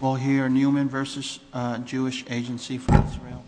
We'll hear Newman v. Jewish Agency for the Thrill.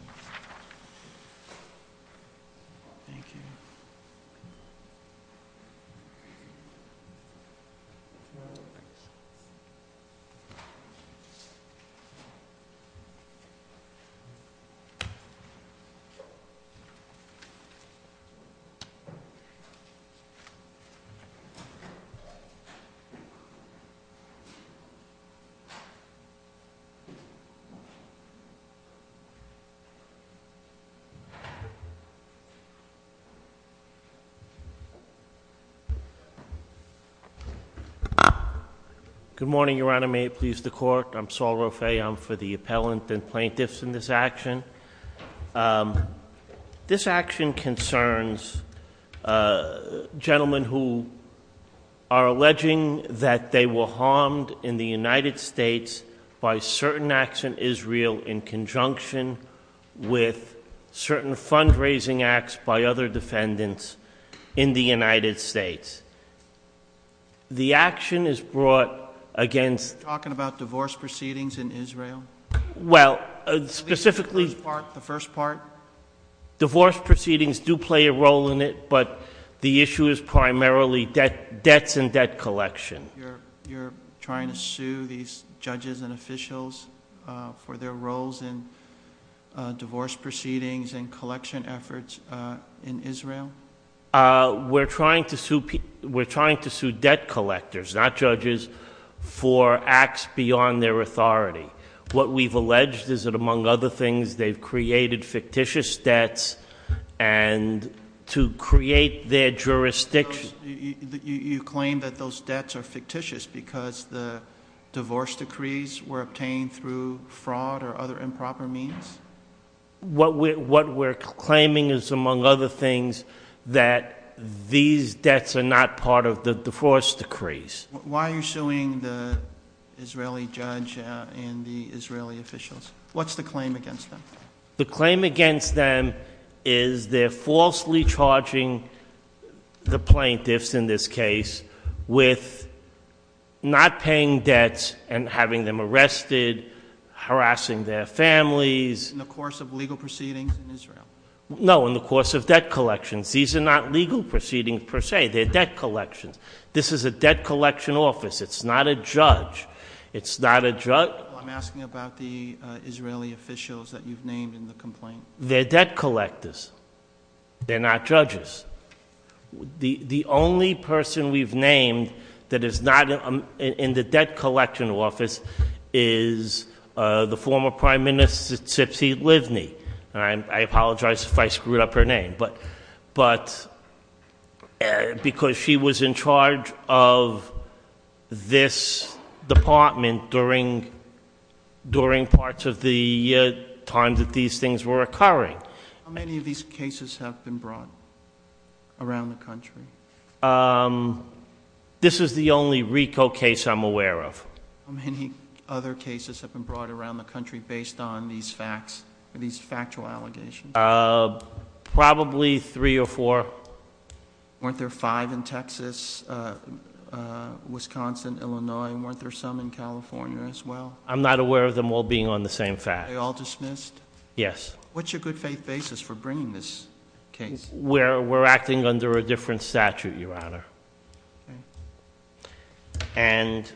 Good morning, Your Honor. May it please the Court, I'm Saul Roffe. I'm for the appellant and plaintiffs in this action. This action concerns gentlemen who are alleging that they were harmed in the United States by certain acts in Israel in conjunction with certain fundraising acts by other defendants in the United States. The action is brought against— Are you talking about divorce proceedings in Israel? Well, specifically— The first part? Divorce proceedings do play a role in it, but the issue is primarily debts and debt collection. You're trying to sue these judges and officials for their roles in divorce proceedings and collection efforts in Israel? We're trying to sue debt collectors, not judges, for acts beyond their authority. What we've alleged is that, among other things, they've created fictitious debts and to create their jurisdiction. You claim that those debts are fictitious because the divorce decrees were obtained through fraud or other improper means? What we're claiming is, among other things, that these debts are not part of the divorce decrees. Why are you suing the Israeli judge and the Israeli officials? What's the claim against them? The claim against them is they're falsely charging the plaintiffs, in this case, with not paying debts and having them arrested, harassing their families— In the course of legal proceedings in Israel? No, in the course of debt collections. These are not legal proceedings, per se. They're debt collections. This is a debt collection office. It's not a judge. It's not a judge— I'm asking about the Israeli officials that you've named in the complaint. They're debt collectors. They're not judges. The only person we've named that is not in the debt collection office is the former Prime Minister, Tzipsi Livni. I apologize if I screwed up her name, but because she was in charge of this department during parts of the time that these things were occurring. How many of these cases have been brought around the country? This is the only RICO case I'm aware of. How many other cases have been brought around the country based on these facts, these factual allegations? Uh, probably three or four. Weren't there five in Texas, Wisconsin, Illinois? Weren't there some in California as well? I'm not aware of them all being on the same fact. Are they all dismissed? Yes. What's your good faith basis for bringing this case? We're acting under a different statute, Your Honor. And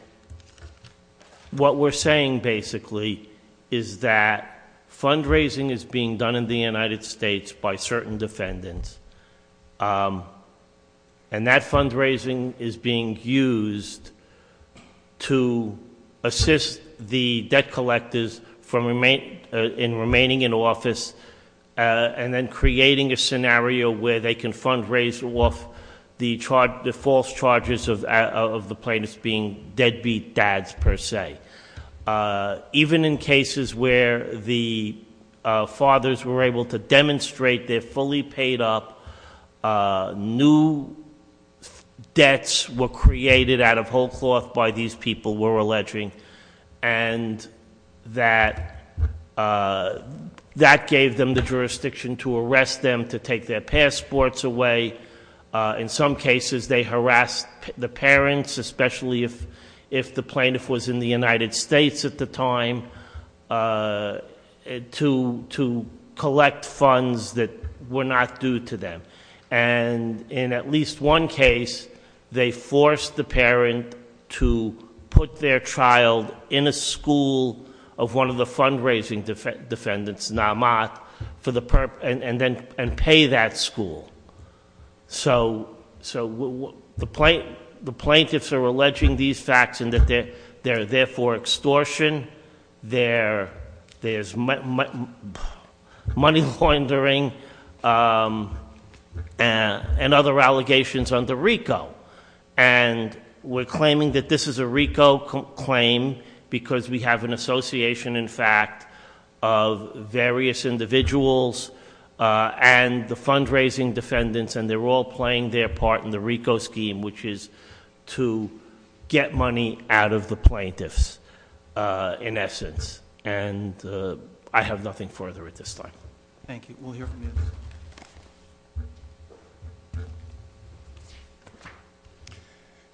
what we're saying, basically, is that fundraising is being done in the United States by certain defendants. And that fundraising is being used to assist the debt collectors in remaining in office, and then creating a scenario where they can fundraise off the false charges of the plaintiffs being deadbeat dads, per se. Uh, even in cases where the fathers were able to demonstrate they're fully paid up, new debts were created out of whole cloth by these people we're alleging. And that gave them the jurisdiction to arrest them, to take their passports away. In some cases, they harassed the parents, especially if the plaintiff was in the United States at the time, to collect funds that were not due to them. And in at least one case, they forced the parent to put their child in a school of one of the fundraising defendants, Namath, and pay that school. So the plaintiffs are alleging these facts and that they're there for extortion. There's money laundering and other allegations under RICO. And we're claiming that this is a RICO claim because we have an association, in fact, of various individuals and the fundraising defendants. And they're all playing their part in the RICO scheme, which is to get money out of the plaintiffs, in essence. And I have nothing further at this time. Thank you. We'll hear from you.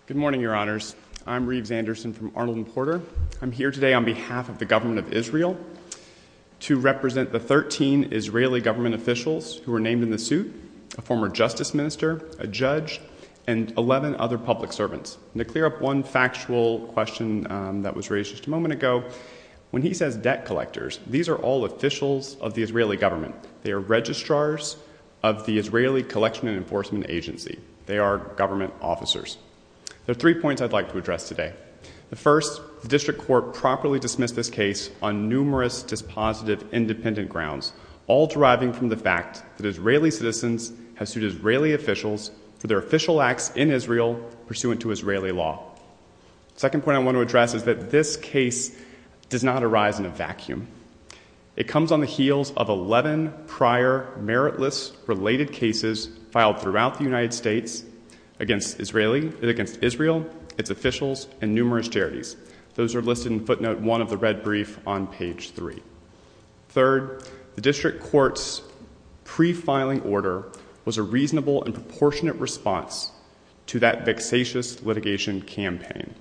Good morning, Your Honors. I'm Reeves Anderson from Arnold and Porter. I'm here today on behalf of the government of Israel to represent the 13 Israeli government officials who are named in the suit, a former justice minister, a judge, and 11 other public servants. To clear up one factual question that was raised just a moment ago, when he says debt collectors, these are all officials of the Israeli government. They are registrars of the Israeli Collection and Enforcement Agency. They are government officers. There are three points I'd like to address today. The first, the district court properly dismissed this case on numerous dispositive independent grounds, all deriving from the fact that Israeli citizens have sued Israeli officials for their official acts in Israel pursuant to Israeli law. The second point I want to address is that this case does not arise in a vacuum. It comes on the heels of 11 prior meritless related cases filed throughout the United States against Israel, its officials, and numerous charities. Those are listed in footnote one of the red brief on page three. Third, the district court's pre-filing order was a reasonable and proportionate response to that vexatious litigation campaign.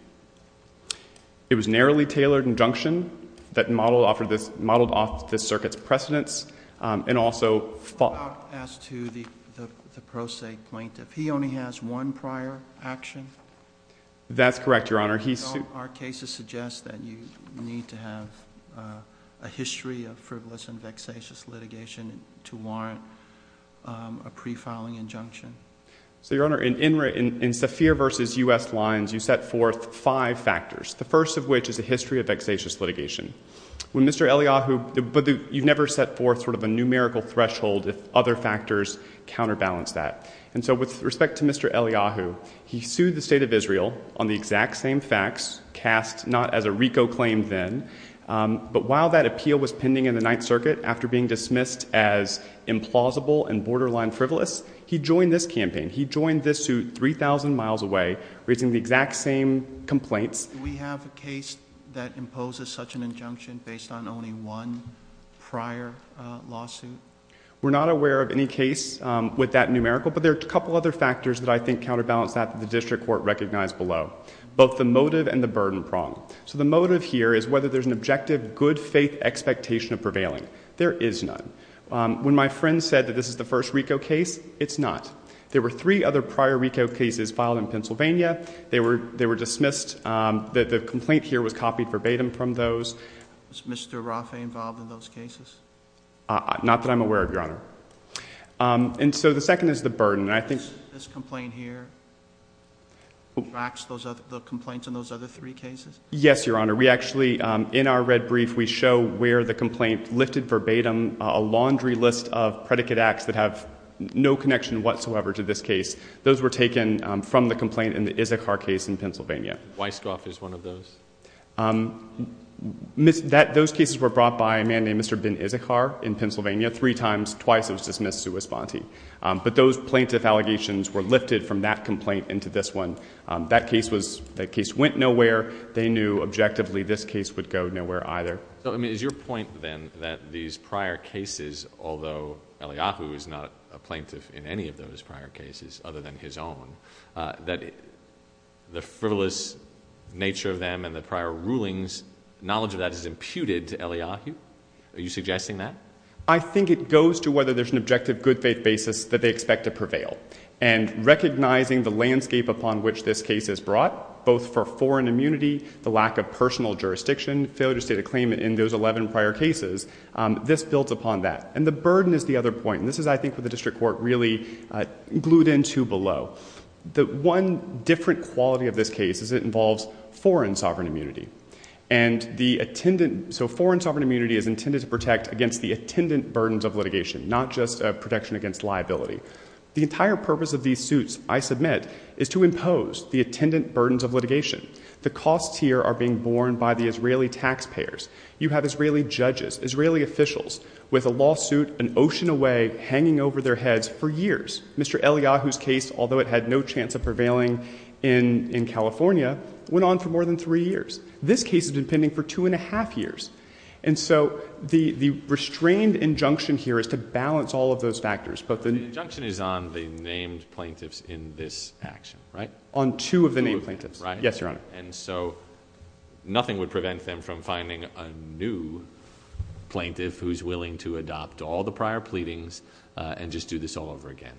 It was a narrowly tailored injunction that modeled off the circuit's precedence and also... As to the pro se plaintiff, he only has one prior action? That's correct, Your Honor. Our cases suggest that you need to have a history of frivolous and vexatious litigation to warrant a pre-filing injunction. So, Your Honor, in Safir v. U.S. Lines, you set forth five factors, the first of which is a history of vexatious litigation. Mr. Eliyahu, you've never set forth sort of a numerical threshold if other factors counterbalance that. And so, with respect to Mr. Eliyahu, he sued the state of Israel on the exact same facts, cast not as a RICO claim then, but while that appeal was pending in the Ninth Circuit after being dismissed as implausible and borderline frivolous, he joined this campaign. He joined this suit 3,000 miles away, raising the exact same complaints. We have a case that imposes such an injunction based on only one prior lawsuit? We're not aware of any case with that numerical, but there are a couple other factors that I think counterbalance that that the district court recognized below, both the motive and the burden prong. So, the motive here is whether there's an objective, good-faith expectation of prevailing. There is none. When my friend said that this is the first RICO case, it's not. There were three other prior RICO cases filed in Pennsylvania. They were dismissed. The complaint here was copied verbatim from those. Was Mr. Rafay involved in those cases? Not that I'm aware of, Your Honor. And so, the second is the burden. I think... This complaint here tracks the complaints in those other three cases? Yes, Your Honor. We actually, in our red brief, we show where the complaint lifted verbatim a laundry list of predicate acts that have no connection whatsoever to this case. Those were taken from the complaint in the Issachar case in Pennsylvania. Weisskopf is one of those. Those cases were brought by a man named Mr. Ben Issachar in Pennsylvania. Three times, twice, it was dismissed to a sponte. But those plaintiff allegations were lifted from that complaint into this one. That case went nowhere. They knew, objectively, this case would go nowhere either. So, I mean, is your point, then, that these prior cases, although Eliyahu is not a plaintiff in any of those prior cases other than his own, that the frivolous nature of them and the prior rulings, knowledge of that is imputed to Eliyahu? Are you suggesting that? I think it goes to whether there's an objective good faith basis that they expect to prevail. And recognizing the landscape upon which this case is brought, both for foreign immunity, the lack of personal jurisdiction, failure to state a claim in those 11 prior cases, this builds upon that. And the burden is the other point. This is, I think, what the district court really glued into below. The one different quality of this case is it involves foreign sovereign immunity. And the attendant, so foreign sovereign immunity is intended to protect against the attendant burdens of litigation, not just protection against liability. The entire purpose of these suits, I submit, is to impose the attendant burdens of litigation. The costs here are being borne by the Israeli taxpayers. You have Israeli judges, Israeli officials, with a lawsuit an ocean away, hanging over their heads for years. Mr. Eliyahu's case, although it had no chance of prevailing in California, went on for more than three years. This case has been pending for two and a half years. And so the restrained injunction here is to balance all of those factors. But the injunction is on the named plaintiffs in this action, right? On two of the named plaintiffs. Yes, Your Honor. And so nothing would prevent them from finding a new plaintiff who's willing to adopt all the prior pleadings and just do this all over again.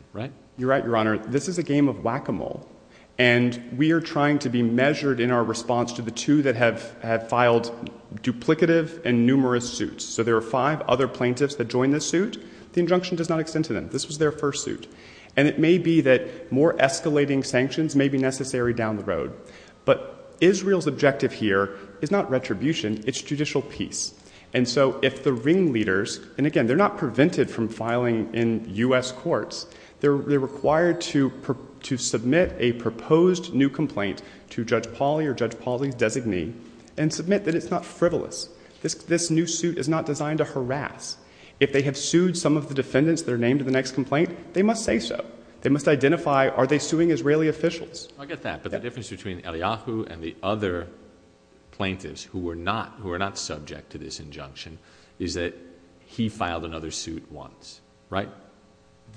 You're right, Your Honor. This is a game of whack-a-mole. And we are trying to be measured in our response to the two that have filed duplicative and numerous suits. So there are five other plaintiffs that joined this suit. The injunction does not extend to them. This was their first suit. And it may be that more escalating sanctions may be necessary down the road. But Israel's objective here is not retribution. It's judicial peace. They're required to submit a proposed new complaint to Judge Pauly or Judge Pauly's designee and submit that it's not frivolous. This new suit is not designed to harass. If they have sued some of the defendants that are named in the next complaint, they must say so. They must identify, are they suing Israeli officials? I get that. But the difference between Eliyahu and the other plaintiffs who were not subject to this injunction is that he filed another suit once, right?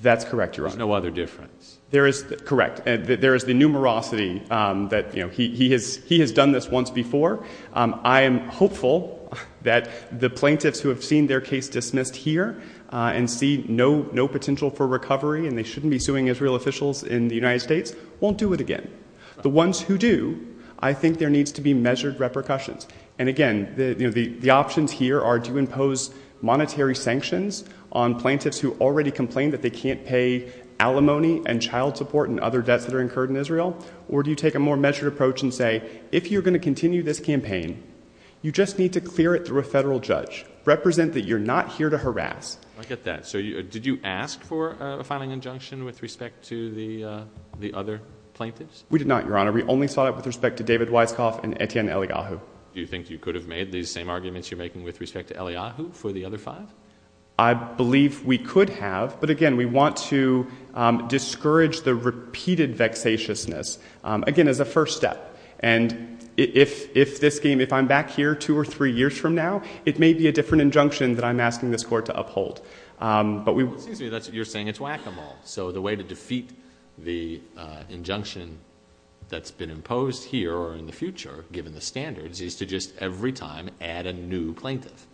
That's correct, Your Honor. There's no other difference. There is. Correct. There is the numerosity that he has done this once before. I am hopeful that the plaintiffs who have seen their case dismissed here and see no potential for recovery and they shouldn't be suing Israel officials in the United States won't do it again. The ones who do, I think there needs to be measured repercussions. And again, the options here are do you impose monetary sanctions on plaintiffs who already complain that they can't pay alimony and child support and other debts that are incurred in Israel? Or do you take a more measured approach and say, if you're going to continue this campaign, you just need to clear it through a federal judge. Represent that you're not here to harass. I get that. So did you ask for a filing injunction with respect to the other plaintiffs? We did not, Your Honor. We only sought it with respect to David Weisskopf and Etienne Eliyahu. Do you think you could have made these same arguments you're making with respect to Eliyahu for the other five? I believe we could have. But again, we want to discourage the repeated vexatiousness. Again, as a first step. And if this game, if I'm back here two or three years from now, it may be a different injunction that I'm asking this Court to uphold. But we— It seems to me that you're saying it's whack-a-mole. So the way to defeat the injunction that's been imposed here or in the future, given the standards, is to just every time add a new plaintiff.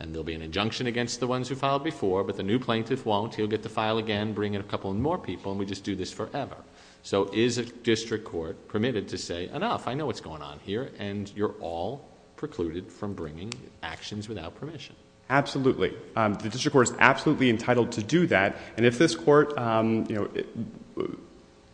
And there'll be an injunction against the ones who filed before, but the new plaintiff won't. He'll get to file again, bring in a couple more people, and we just do this forever. So is a district court permitted to say, enough, I know what's going on here, and you're all precluded from bringing actions without permission? Absolutely. The district court is absolutely entitled to do that. And if this court— But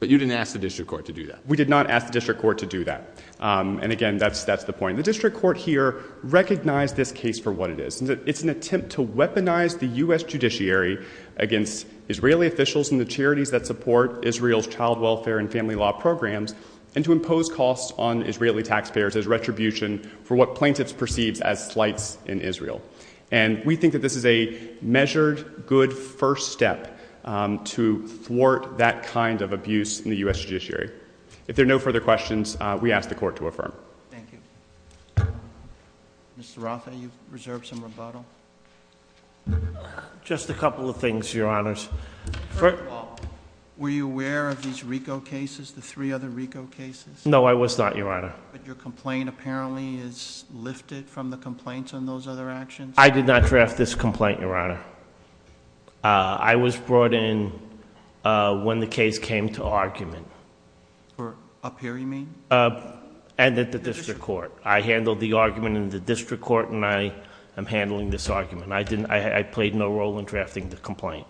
you didn't ask the district court to do that? We did not ask the district court to do that. And again, that's the point. The district court here recognized this case for what it is. It's an attempt to weaponize the U.S. Judiciary against Israeli officials and the charities that support Israel's child welfare and family law programs, and to impose costs on Israeli taxpayers as retribution for what plaintiffs perceive as slights in Israel. And we think that this is a measured, good first step to thwart that kind of abuse in the U.S. Judiciary. If there are no further questions, we ask the Court to affirm. Thank you. Mr. Roth, have you reserved some rebuttal? Just a couple of things, Your Honors. Were you aware of these RICO cases, the three other RICO cases? No, I was not, Your Honor. But your complaint apparently is lifted from the complaints on those other actions? I did not draft this complaint, Your Honor. I was brought in when the case came to argument. Up here, you mean? And at the district court. I handled the argument in the district court, and I am handling this argument. I didn't... I played no role in drafting the complaint.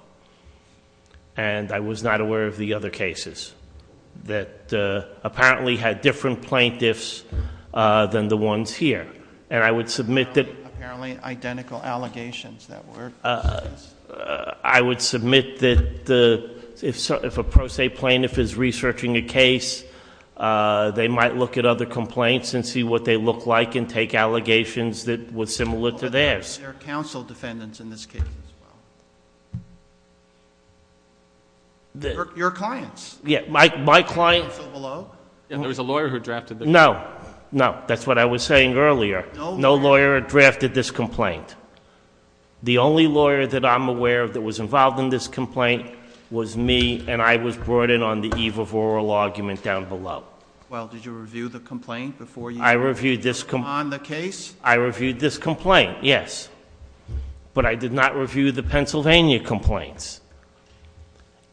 And I was not aware of the other cases that apparently had different plaintiffs than the ones here. And I would submit that... Apparently, identical allegations, that word. I would submit that if a pro se plaintiff is researching a case, they might look at other complaints and see what they look like, and take allegations that were similar to theirs. There are counsel defendants in this case as well. Your clients? Yeah, my client... Counsel below? And there was a lawyer who drafted the... No, no. That's what I was saying earlier. No lawyer drafted this complaint. The only lawyer that I'm aware of that was involved in this complaint was me, and I was brought in on the eve of oral argument down below. Well, did you review the complaint before you... I reviewed this...... on the case? I reviewed this complaint, yes. But I did not review the Pennsylvania complaints.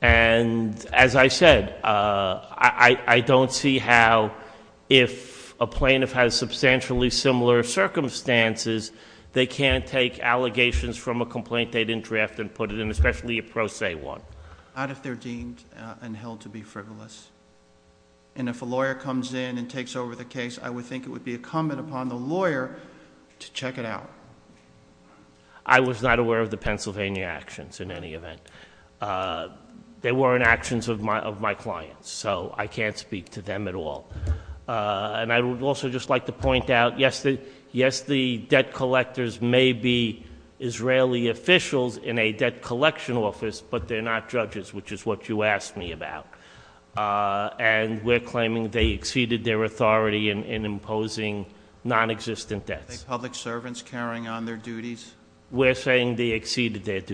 And as I said, I don't see how if a plaintiff has substantially similar circumstances, they can't take allegations from a complaint they didn't draft and put it in, especially a pro se one. Not if they're deemed and held to be frivolous. And if a lawyer comes in and takes over the case, I would think it would be incumbent upon the lawyer to check it out. I was not aware of the Pennsylvania actions in any event. They weren't actions of my clients, so I can't speak to them at all. And I would also just like to point out, yes, the debt collectors may be Israeli officials in a debt collection office, but they're not judges, which is what you asked me about. And we're claiming they exceeded their authority in imposing non-existent debts. Are they public servants carrying on their duties? We're saying they exceeded their duty.